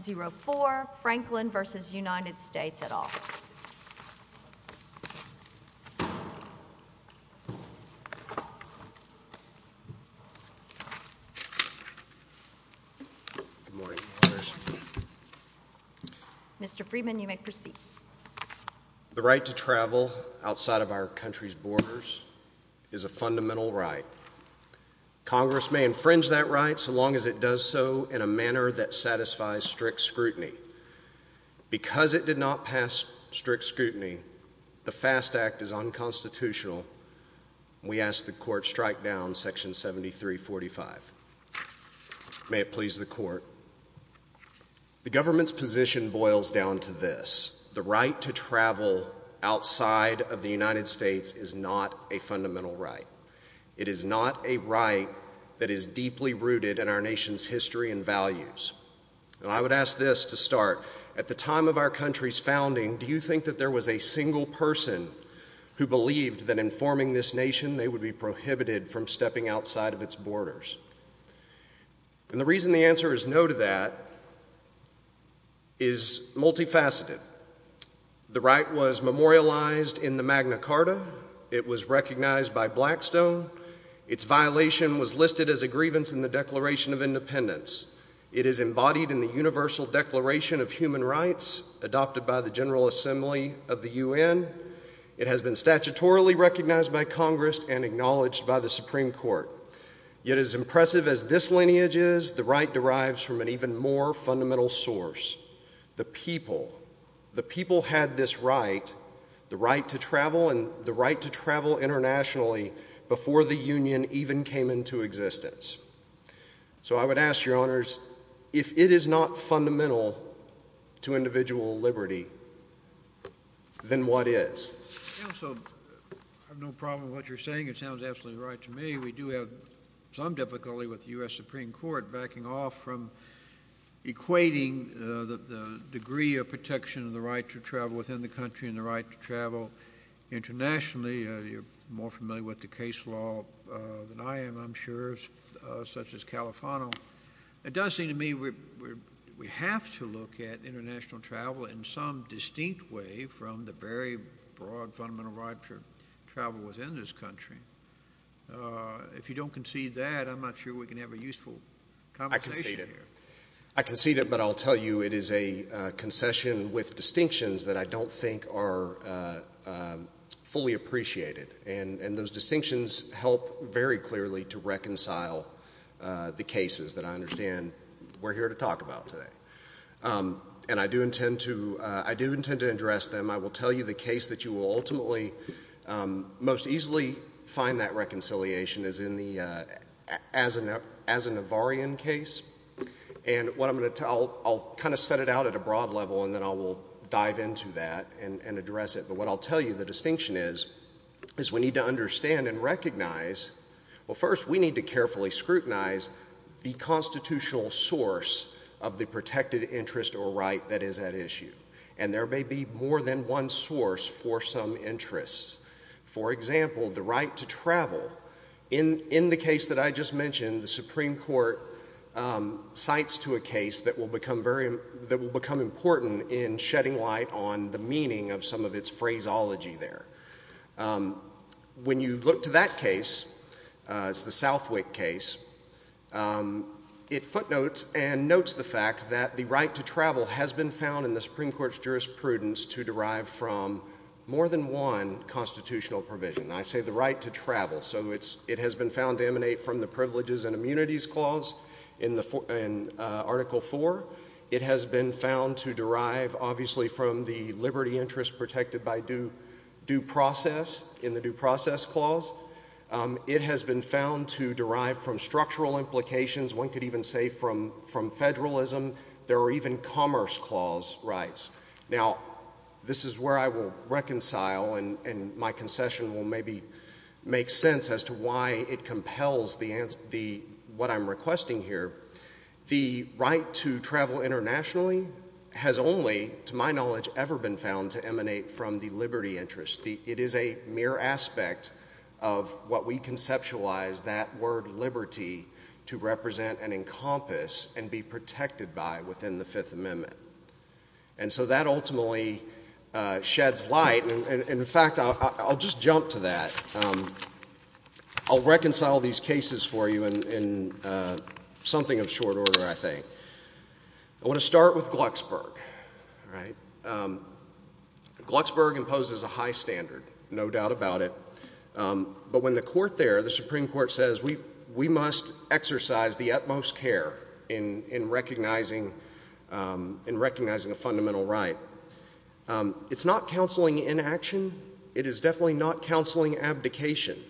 0-4 Franklin v. United States at all. Mr. Friedman, you may proceed. The right to travel outside of our country's borders is a fundamental right. Congress may infringe that right so long as it does so in a manner that satisfies strict scrutiny. Because it did not pass strict scrutiny, the FAST Act is unconstitutional. We ask the Court strike down Section 7345. May it please the Court. The government's position boils down to this. The right to travel outside of the United States is not a fundamental right. It is not a right that is deeply rooted in our nation's history and values. And I would ask this to start. At the time of our country's founding, do you think that there was a single person who believed that in forming this nation they would be prohibited from stepping outside of its borders? And the reason the answer is no to that is multifaceted. The right was memorialized in the Magna Carta. It was recognized by Blackstone. Its violation was listed as a grievance in the Declaration of Independence. It is embodied in the Universal Declaration of Human Rights, adopted by the General Assembly of the UN. It has been statutorily recognized by Congress and acknowledged by the Supreme Court. Yet as impressive as this lineage is, the right derives from an even more fundamental source. The people. The people had this right, the right to travel, and the right to travel internationally before the Union even came into existence. So I would ask, Your Honors, if it is not fundamental to individual liberty, then what is? I have no problem with what you're saying. It sounds absolutely right to me. We do have some difficulty with the U.S. Supreme Court backing off from equating the degree of protection of the right to travel within the country and the right to travel internationally. You're more familiar with the case law than I am, I'm sure, such as Califano. It does seem to me we have to look at international travel in some distinct way from the very broad fundamental right to travel within this country. If you don't concede that, I'm not sure we can have a useful conversation here. I concede it. I concede it, but I'll tell you it is a concession with distinctions that I don't think are fully appreciated. And those distinctions help very clearly to reconcile the cases that I understand we're here to talk about today. And I do intend to address them. I will tell you the case that you will ultimately most easily find that reconciliation is as a Navarrian case. And I'll kind of set it out at a broad level, and then I will dive into that and address it. But what I'll tell you the distinction is, is we need to understand and recognize, well, first we need to carefully scrutinize the constitutional source of the protected interest or right that is at issue. And there may be more than one source for some interests. For example, the right to travel, in the case that I just mentioned, the Supreme Court cites to a case that will become important in shedding light on the meaning of some of its phraseology there. When you look to that case, it's the Southwick case, it footnotes and notes the fact that the right to travel has been found in the Supreme Court's jurisprudence to derive from more than one constitutional provision. I say the right to travel, so it has been found to emanate from the Privileges and Immunities Clause in Article IV. It has been found to derive, obviously, from the liberty interest protected by due process in the Due Process Clause. It has been found to derive from structural implications. One could even say from federalism. There are even Commerce Clause rights. Now, this is where I will reconcile, and my concession will maybe make sense as to why it compels what I'm requesting here. The right to travel internationally has only, to my knowledge, ever been found to emanate from the liberty interest. It is a mere aspect of what we conceptualize that word liberty to represent and encompass and be protected by within the Fifth Amendment. And so that ultimately sheds light, and in fact, I'll just jump to that. I'll reconcile these cases for you in something of short order, I think. I want to start with Glucksberg. Glucksberg imposes a high standard, no doubt about it. But when the court there, the Supreme Court, says we must exercise the utmost care in recognizing a fundamental right, it's not counseling inaction. It is definitely not counseling abdication.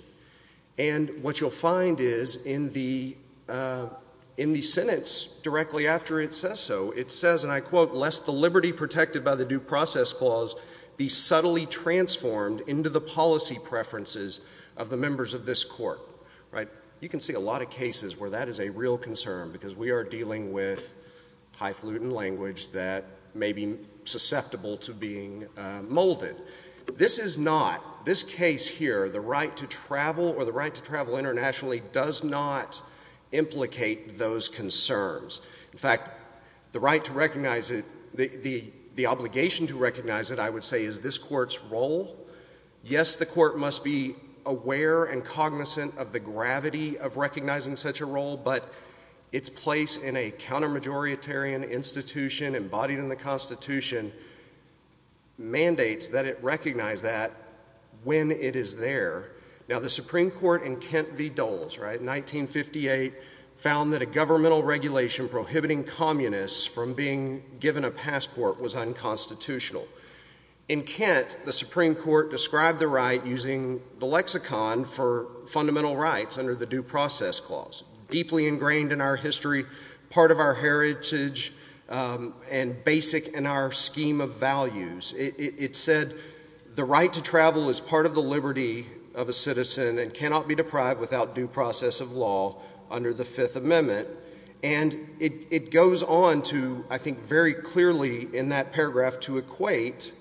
And what you'll find is in the sentence directly after it says so, it says, and I quote, lest the liberty protected by the Due Process Clause be subtly transformed into the policy preferences of the members of this court. You can see a lot of cases where that is a real concern because we are dealing with highfalutin language that may be susceptible to being molded. This is not, this case here, the right to travel or the right to travel internationally does not implicate those concerns. In fact, the right to recognize it, the obligation to recognize it, I would say is this court's role. Yes, the court must be aware and cognizant of the gravity of recognizing such a role, but its place in a counter-majoritarian institution embodied in the Constitution mandates that it recognize that when it is there. Now, the Supreme Court in Kent v. Doles, right, in 1958, found that a governmental regulation prohibiting communists from being given a passport was unconstitutional. In Kent, the Supreme Court described the right using the lexicon for fundamental rights under the Due Process Clause, deeply ingrained in our history, part of our heritage, and basic in our scheme of values. It said the right to travel is part of the liberty of a citizen and cannot be deprived without due process of law under the Fifth Amendment. And it goes on to, I think very clearly in that paragraph, to equate,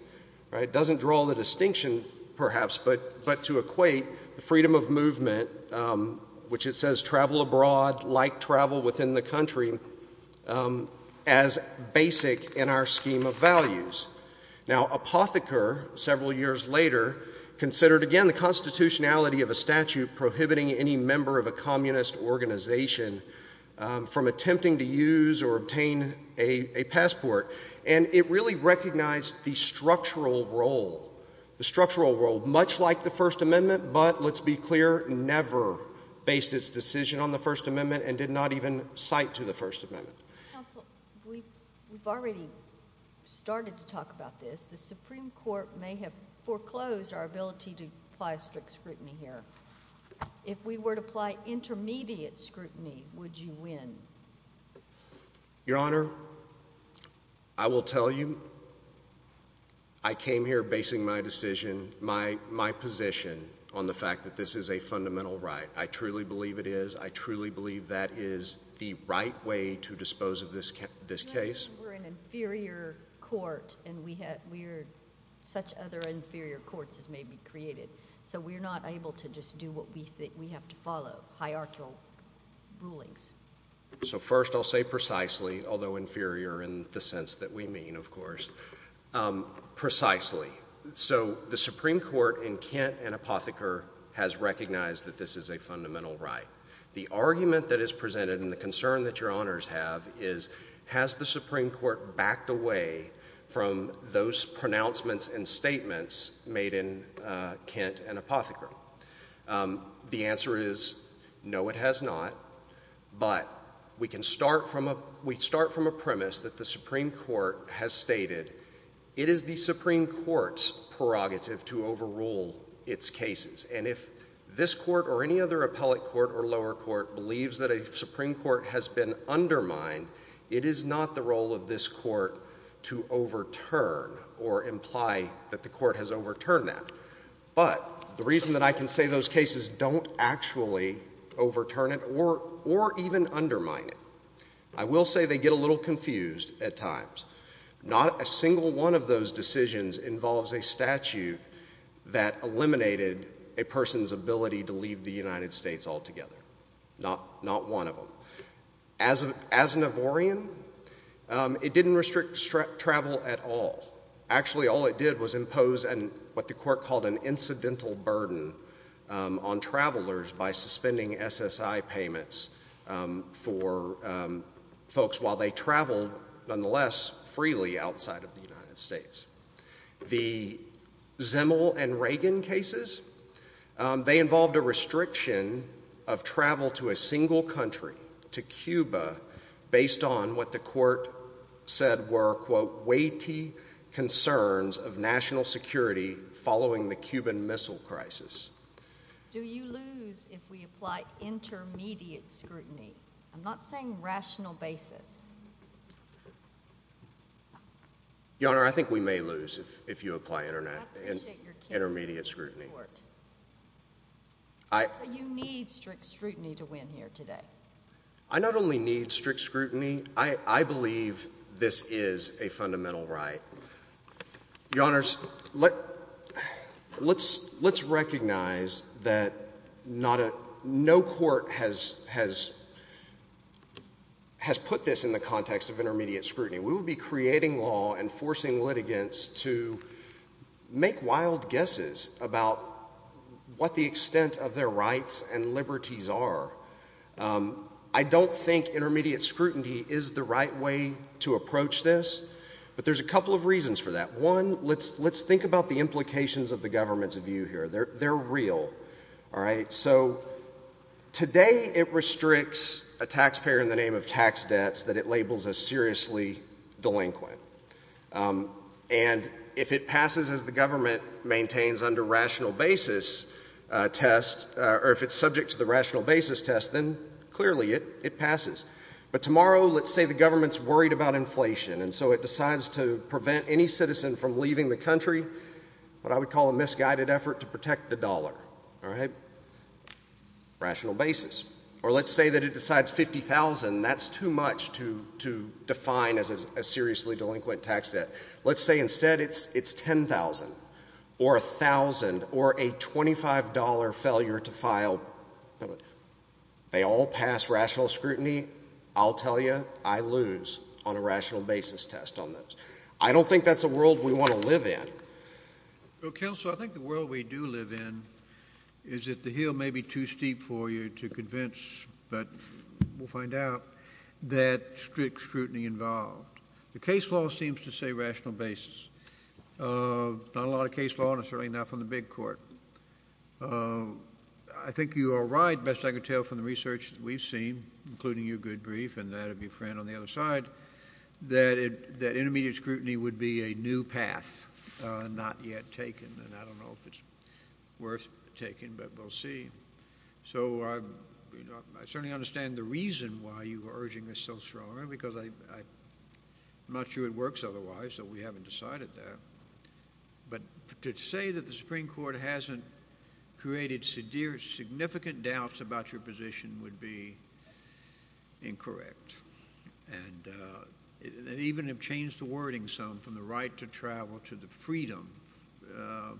right, doesn't draw the distinction perhaps, but to equate the freedom of movement, which it says travel abroad, like travel within the country, as basic in our scheme of values. Now, Apotheker, several years later, considered again the constitutionality of a statute prohibiting any member of a communist organization from attempting to use or obtain a passport. And it really recognized the structural role, the structural role, much like the First Amendment, but let's be clear, never based its decision on the First Amendment and did not even cite to the First Amendment. Counsel, we've already started to talk about this. The Supreme Court may have foreclosed our ability to apply strict scrutiny here. If we were to apply intermediate scrutiny, would you win? Your Honor, I will tell you, I came here basing my decision, my position, on the fact that this is a fundamental right. I truly believe it is. I truly believe that is the right way to dispose of this case. We're an inferior court, and we are such other inferior courts as may be created. So we're not able to just do what we think we have to follow, hierarchical rulings. So first I'll say precisely, although inferior in the sense that we mean, of course, precisely. So the Supreme Court in Kent and Apotheker has recognized that this is a fundamental right. The argument that is presented and the concern that Your Honors have is, has the Supreme Court backed away from those pronouncements and statements made in Kent and Apotheker? The answer is, no, it has not. But we can start from a premise that the Supreme Court has stated it is the Supreme Court's prerogative to overrule its cases. And if this court or any other appellate court or lower court believes that a Supreme Court has been undermined, it is not the role of this court to overturn or imply that the court has overturned that. But the reason that I can say those cases don't actually overturn it or even undermine it, I will say they get a little confused at times. Not a single one of those decisions involves a statute that eliminated a person's ability to leave the United States altogether. Not one of them. As an Ivorian, it didn't restrict travel at all. Actually, all it did was impose what the court called an incidental burden on travelers by suspending SSI payments for folks while they traveled, nonetheless, freely outside of the United States. The Zimmel and Reagan cases, they involved a restriction of travel to a single country, to Cuba, based on what the court said were, quote, weighty concerns of national security following the Cuban Missile Crisis. Do you lose if we apply intermediate scrutiny? I'm not saying rational basis. Your Honor, I think we may lose if you apply intermediate scrutiny. You need strict scrutiny to win here today. I not only need strict scrutiny, I believe this is a fundamental right. Your Honors, let's recognize that no court has put this in the context of intermediate scrutiny. We would be creating law and forcing litigants to make wild guesses about what the extent of their rights and liberties are. I don't think intermediate scrutiny is the right way to approach this, but there's a couple of reasons for that. One, let's think about the implications of the government's view here. They're real. So today it restricts a taxpayer in the name of tax debts that it labels as seriously delinquent. And if it passes as the government maintains under rational basis test, or if it's subject to the rational basis test, then clearly it passes. But tomorrow, let's say the government's worried about inflation, and so it decides to prevent any citizen from leaving the country, what I would call a misguided effort to protect the dollar. All right? Rational basis. Or let's say that it decides $50,000. That's too much to define as a seriously delinquent tax debt. Let's say instead it's $10,000 or $1,000 or a $25 failure to file. They all pass rational scrutiny. I'll tell you, I lose on a rational basis test on those. I don't think that's a world we want to live in. Well, counsel, I think the world we do live in is that the hill may be too steep for you to convince, but we'll find out, that strict scrutiny involved. The case law seems to say rational basis. Not a lot of case law, and certainly not from the big court. I think you are right, best I could tell from the research we've seen, including your good brief and that of your friend on the other side, that intermediate scrutiny would be a new path, not yet taken, and I don't know if it's worth taking, but we'll see. So I certainly understand the reason why you are urging this so strongly, because I'm not sure it works otherwise, so we haven't decided that. But to say that the Supreme Court hasn't created significant doubts about your position would be incorrect, and even have changed the wording some from the right to travel to the freedom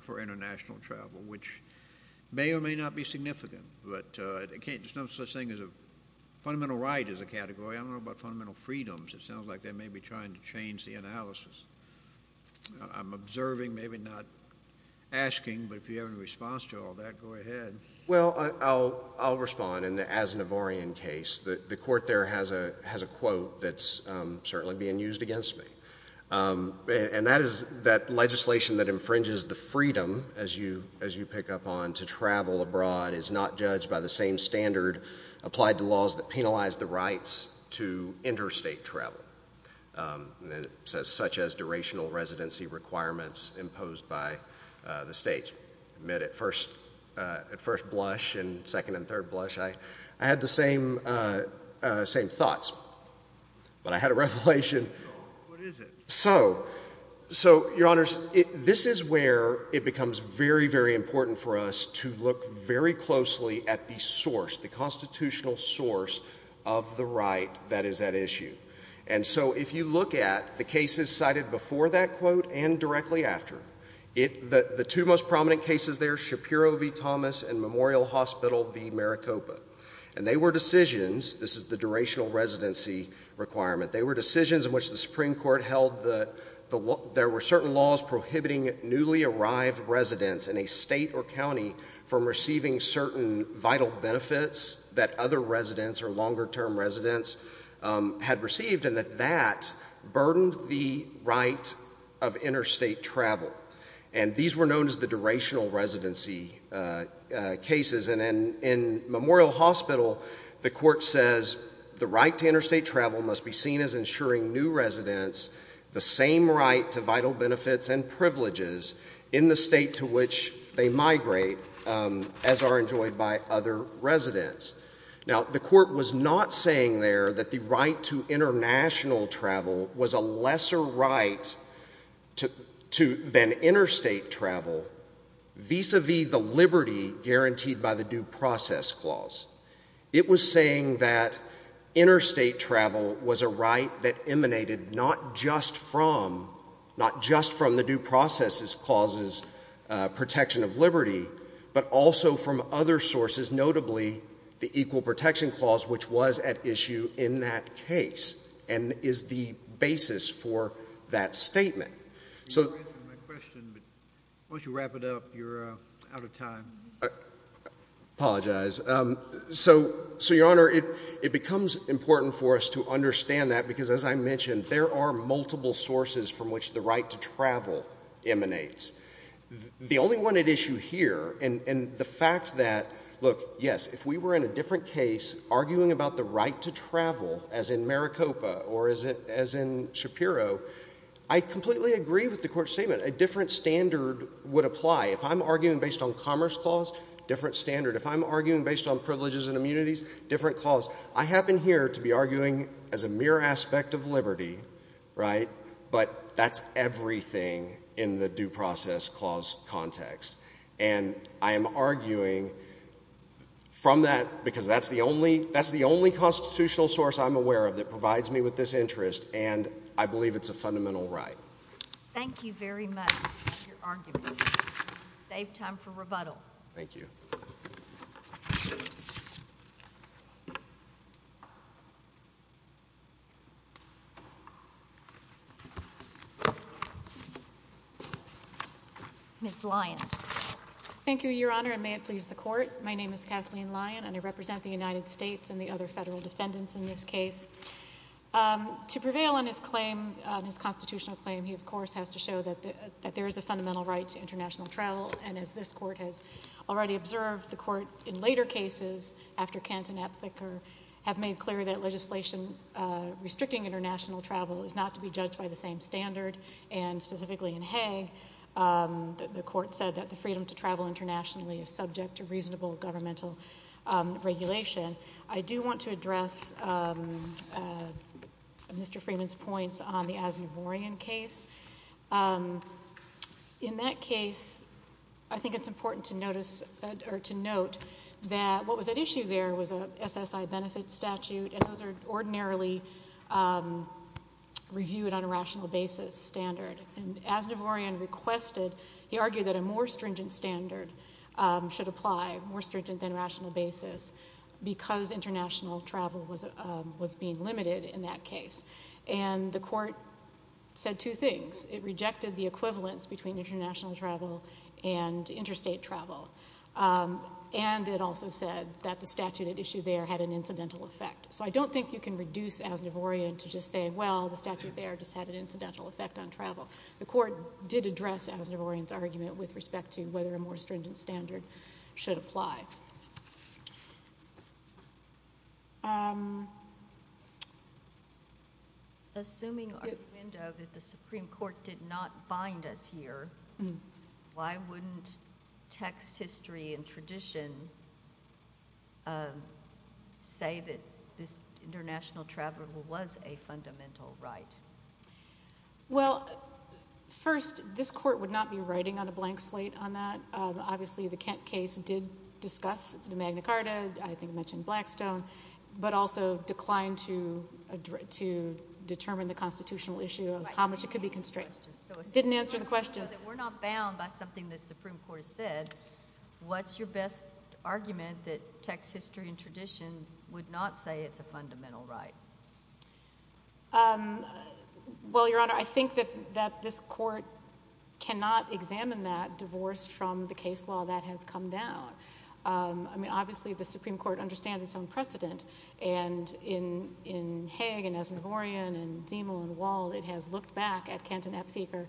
for international travel, which may or may not be significant, but there's no such thing as a fundamental right as a category. I don't know about fundamental freedoms. It sounds like they may be trying to change the analysis. I'm observing, maybe not asking, but if you have any response to all that, go ahead. Well, I'll respond. In the Aznavourian case, the court there has a quote that's certainly being used against me, and that is that legislation that infringes the freedom, as you pick up on, to travel abroad is not judged by the same standard applied to laws that penalize the rights to interstate travel. It says, such as durational residency requirements imposed by the states. At first blush and second and third blush, I had the same thoughts, but I had a revelation. What is it? So, Your Honors, this is where it becomes very, very important for us to look very closely at the source, the constitutional source of the right that is at issue. And so if you look at the cases cited before that quote and directly after, the two most prominent cases there, Shapiro v. Thomas and Memorial Hospital v. Maricopa, and they were decisions, this is the durational residency requirement, they were decisions in which the Supreme Court held that there were certain laws prohibiting newly arrived residents in a state or county from receiving certain vital benefits that other residents or longer term residents had received, and that that burdened the right of interstate travel. And these were known as the durational residency cases. And in Memorial Hospital, the court says, the right to interstate travel must be seen as ensuring new residents the same right to vital benefits and privileges in the state to which they migrate as are enjoyed by other residents. Now, the court was not saying there that the right to international travel was a lesser right than interstate travel vis-a-vis the liberty guaranteed by the due process clause. It was saying that interstate travel was a right that emanated not just from, not just from the due process clause's protection of liberty, but also from other sources, notably the Equal Protection Clause, which was at issue in that case and is the basis for that statement. You answered my question, but why don't you wrap it up? You're out of time. I apologize. So, Your Honor, it becomes important for us to understand that because, as I mentioned, there are multiple sources from which the right to travel emanates. The only one at issue here, and the fact that, look, yes, if we were in a different case arguing about the right to travel, as in Maricopa or as in Shapiro, I completely agree with the court's statement. A different standard would apply. If I'm arguing based on commerce clause, different standard. If I'm arguing based on privileges and immunities, different clause. I happen here to be arguing as a mere aspect of liberty, right, but that's everything in the due process clause context. And I am arguing from that because that's the only constitutional source I'm aware of that provides me with this interest, and I believe it's a fundamental right. Thank you very much for your argument. Save time for rebuttal. Thank you. Ms. Lyon. Thank you, Your Honor, and may it please the court. My name is Kathleen Lyon, and I represent the United States and the other federal defendants in this case. To prevail on his claim, on his constitutional claim, he, of course, has to show that there is a fundamental right to international travel, and as this court has already observed, the court in later cases, after Kant and Aptheker, have made clear that legislation restricting international travel is not to be judged by the same standard, and specifically in Hague, the court said that the freedom to travel internationally is subject to reasonable governmental regulation. I do want to address Mr. Freeman's points on the Aznavourian case. In that case, I think it's important to note that what was at issue there was an SSI benefit statute, and those are ordinarily reviewed on a rational basis standard. And Aznavourian requested, he argued that a more stringent standard should apply, more stringent than rational basis, because international travel was being limited in that case. And the court said two things. It rejected the equivalence between international travel and interstate travel, and it also said that the statute at issue there had an incidental effect. So I don't think you can reduce Aznavourian to just say, well, the statute there just had an incidental effect on travel. The court did address Aznavourian's argument with respect to whether a more stringent standard should apply. Assuming our window that the Supreme Court did not bind us here, why wouldn't text, history, and tradition say that this international travel was a fundamental right? Well, first, this court would not be writing on a blank slate on that. Obviously, the Kent case did discuss the Magna Carta, I think it mentioned Blackstone, but also declined to determine the constitutional issue of how much it could be constrained. It didn't answer the question. We're not bound by something the Supreme Court has said. What's your best argument that text, history, and tradition would not say it's a fundamental right? Well, Your Honor, I think that this court cannot examine that divorce from the case law that has come down. I mean, obviously, the Supreme Court understands its own precedent, and in Haig and Aznavourian and Zemel and Wald, it has looked back at Kent and Aptheker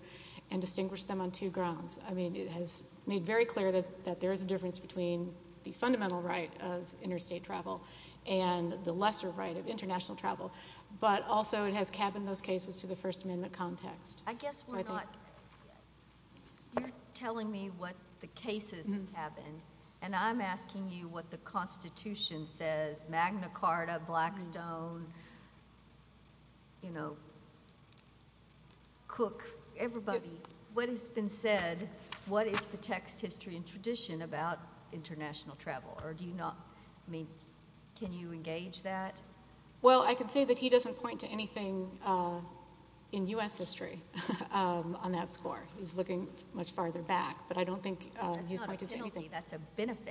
and distinguished them on two grounds. I mean, it has made very clear that there is a difference between the fundamental right of interstate travel and the lesser right of international travel, but also it has cabined those cases to the First Amendment context. I guess we're not—you're telling me what the cases have been, and I'm asking you what the Constitution says, Magna Carta, Blackstone, you know, Cook, everybody. What has been said, what is the text, history, and tradition about international travel? Or do you not—I mean, can you engage that? Well, I can say that he doesn't point to anything in U.S. history on that score. He's looking much farther back, but I don't think he's pointed to anything. That's not a penalty. That's a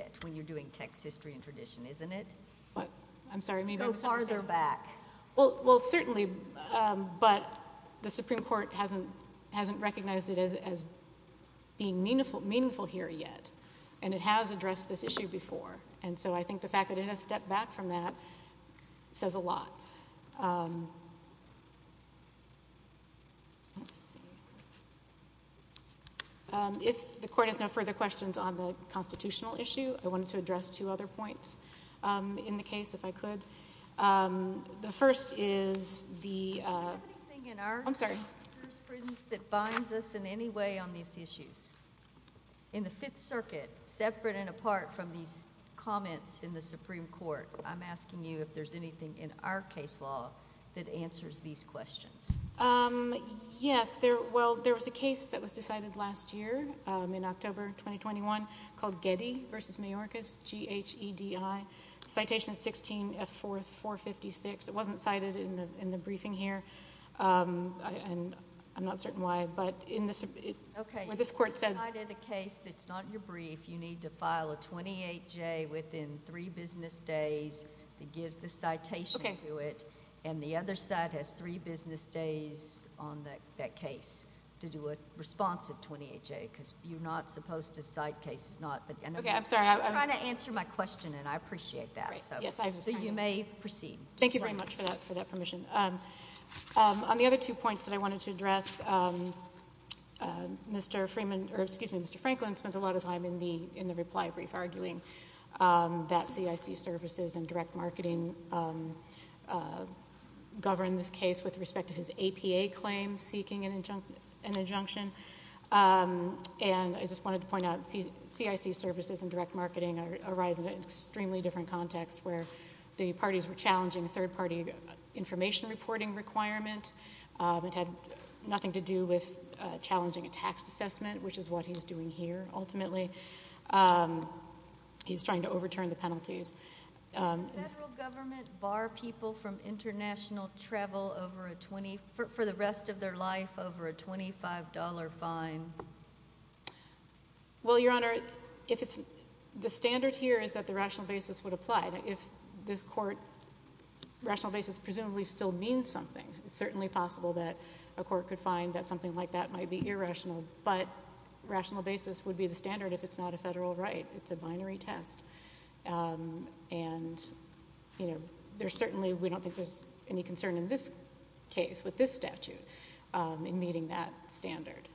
benefit when you're doing text, history, and tradition, isn't it? I'm sorry. Go farther back. Well, certainly, but the Supreme Court hasn't recognized it as being meaningful here yet, and it has addressed this issue before. And so I think the fact that it has stepped back from that says a lot. If the Court has no further questions on the constitutional issue, I wanted to address two other points in the case, if I could. The first is the— Do you have anything in our jurisprudence that binds us in any way on these issues? In the Fifth Circuit, separate and apart from these comments in the Supreme Court, I'm asking you if there's anything in our case law that answers these questions. Yes. Well, there was a case that was decided last year in October 2021 called Getty v. Mayorkas, G-H-E-D-I. Citation 16, F-4, 456. It wasn't cited in the briefing here, and I'm not certain why, but in this— Okay. What this Court said— If you cited a case that's not in your brief, you need to file a 28-J within three business days that gives the citation to it. Okay. And the other side has three business days on that case to do a responsive 28-J, because you're not supposed to cite cases— Okay. I'm sorry. I'm trying to answer my question, and I appreciate that. So you may proceed. Thank you very much for that permission. On the other two points that I wanted to address, Mr. Franklin spent a lot of time in the reply brief arguing that CIC services and direct marketing govern this case with respect to his APA claim seeking an injunction. And I just wanted to point out CIC services and direct marketing arise in an extremely different context where the parties were challenging a third-party information reporting requirement. It had nothing to do with challenging a tax assessment, which is what he's doing here, ultimately. Can the federal government bar people from international travel for the rest of their life over a $25 fine? Well, Your Honor, the standard here is that the rational basis would apply. If this court—rational basis presumably still means something. It's certainly possible that a court could find that something like that might be irrational, but rational basis would be the standard if it's not a federal right. It's a binary test. And there's certainly—we don't think there's any concern in this case with this statute in meeting that standard.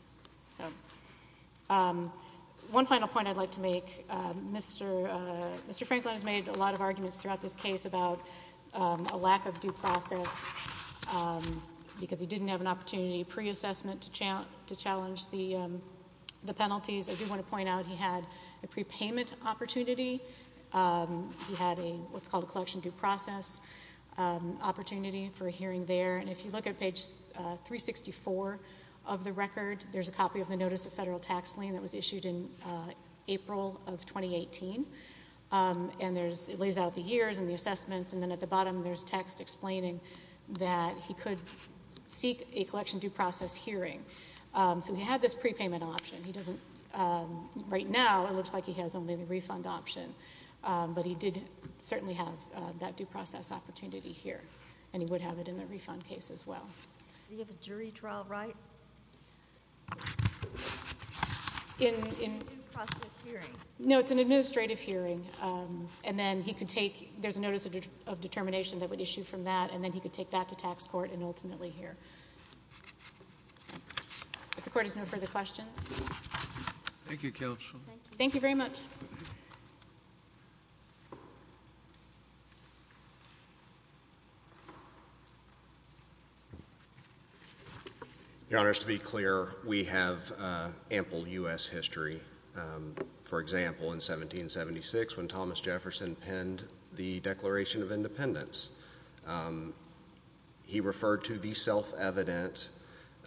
One final point I'd like to make. Mr. Franklin has made a lot of arguments throughout this case about a lack of due process because he didn't have an opportunity pre-assessment to challenge the penalties. I do want to point out he had a prepayment opportunity. He had what's called a collection due process opportunity for a hearing there. And if you look at page 364 of the record, there's a copy of the notice of federal tax lien that was issued in April of 2018. And it lays out the years and the assessments, and then at the bottom there's text explaining that he could seek a collection due process hearing. So he had this prepayment option. He doesn't—right now it looks like he has only the refund option, but he did certainly have that due process opportunity here, and he would have it in the refund case as well. Do you have a jury trial right? In— A due process hearing. No, it's an administrative hearing. And then he could take—there's a notice of determination that would issue from that, and then he could take that to tax court and ultimately hear. If the Court has no further questions. Thank you, Counsel. Thank you very much. Your Honors, to be clear, we have ample U.S. history. For example, in 1776 when Thomas Jefferson penned the Declaration of Independence, he referred to the self-evident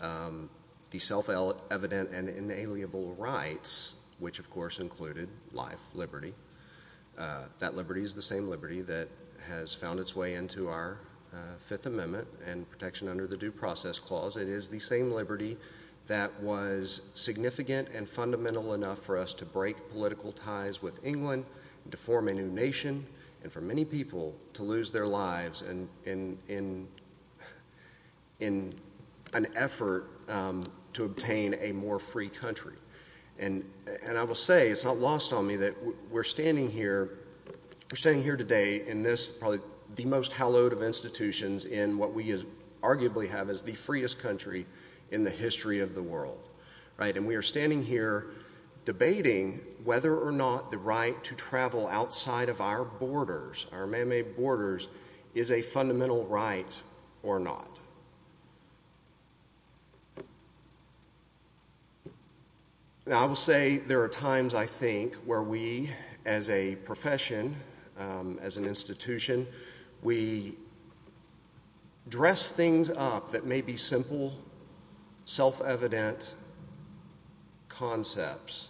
and inalienable rights, which of course included life, liberty. That liberty is the same liberty that has found its way into our Fifth Amendment and protection under the Due Process Clause. It is the same liberty that was significant and fundamental enough for us to break political ties with England, to form a new nation, and for many people to lose their lives in an effort to obtain a more free country. And I will say, it's not lost on me, that we're standing here today in this—probably the most hallowed of institutions in what we arguably have as the freest country in the history of the world. And we are standing here debating whether or not the right to travel outside of our borders, our man-made borders, is a fundamental right or not. Now I will say there are times, I think, where we as a profession, as an institution, we dress things up that may be simple, self-evident concepts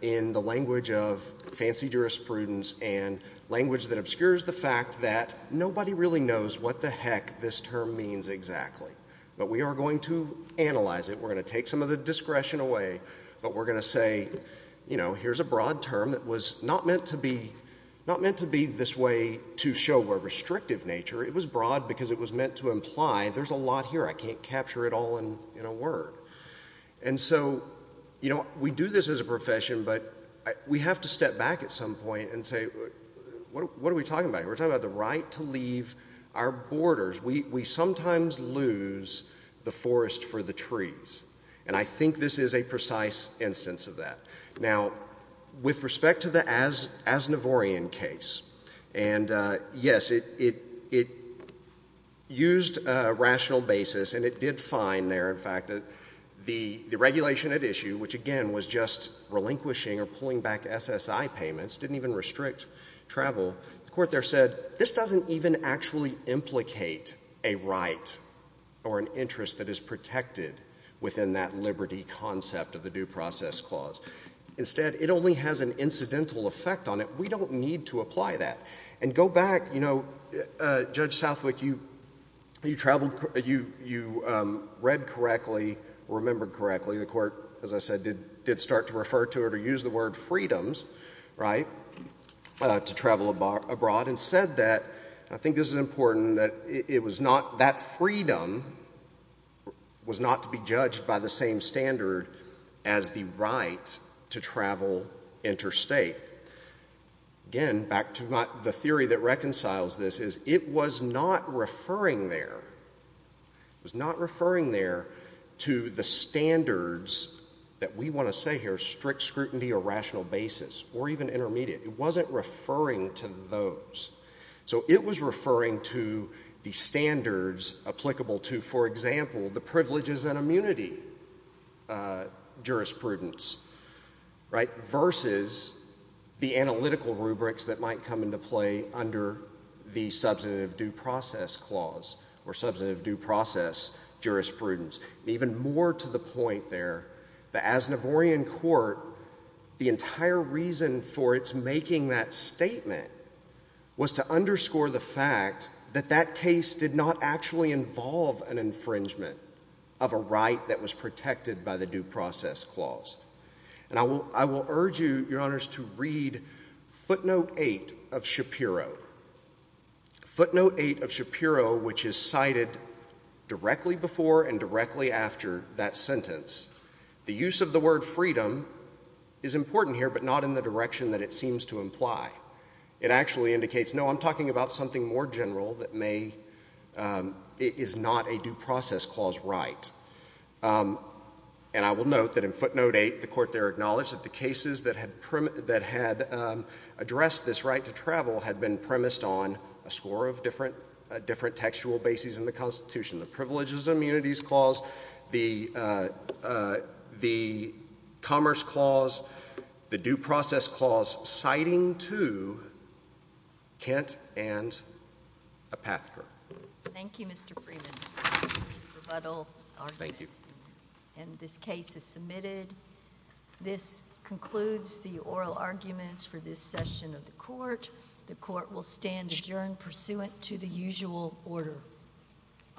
in the language of fancy jurisprudence and language that obscures the fact that nobody really knows what the heck this term means exactly. But we are going to analyze it, we're going to take some of the discretion away, but we're going to say, you know, here's a broad term that was not meant to be this way to show a restrictive nature. It was broad because it was meant to imply there's a lot here, I can't capture it all in a word. And so, you know, we do this as a profession, but we have to step back at some point and say, what are we talking about here? We're talking about the right to leave our borders. We sometimes lose the forest for the trees, and I think this is a precise instance of that. Now, with respect to the Aznavourian case, and yes, it used a rational basis, and it did find there, in fact, that the regulation at issue, which again was just relinquishing or pulling back SSI payments, didn't even restrict travel, the Court there said, this doesn't even actually implicate a right or an interest that is protected within that liberty concept of the Due Process Clause. Instead, it only has an incidental effect on it. We don't need to apply that. And go back, you know, Judge Southwick, you traveled, you read correctly, remembered correctly. The Court, as I said, did start to refer to it or use the word freedoms, right, to travel abroad, and said that, and I think this is important, that it was not, that freedom was not to be judged by the same standard as the right to travel interstate. Again, back to the theory that reconciles this, is it was not referring there, it was not referring there to the standards that we want to say here, strict scrutiny or rational basis, or even intermediate, it wasn't referring to those. So it was referring to the standards applicable to, for example, the privileges and immunity jurisprudence, right, versus the analytical rubrics that might come into play under the substantive Due Process Clause, or substantive Due Process jurisprudence. Even more to the point there, the Aznavourian Court, the entire reason for its making that statement was to underscore the fact that that case did not actually involve an infringement of a right that was protected by the Due Process Clause. And I will urge you, Your Honors, to read footnote 8 of Shapiro. Footnote 8 of Shapiro, which is cited directly before and directly after that sentence, the use of the word freedom is important here, but not in the direction that it seems to imply. It actually indicates, no, I'm talking about something more general that may, is not a Due Process Clause right. And I will note that in footnote 8, the Court there acknowledged that the cases that had, that addressed this right to travel had been premised on a score of different textual bases in the Constitution, the Privileges and Immunities Clause, the Commerce Clause, the Due Process Clause, citing to Kent and Apathiker. Thank you, Mr. Freeman. Rebuttal argument. Thank you. And this case is submitted. This concludes the oral arguments for this session of the Court. The Court will stand adjourned pursuant to the usual order. I'll rise.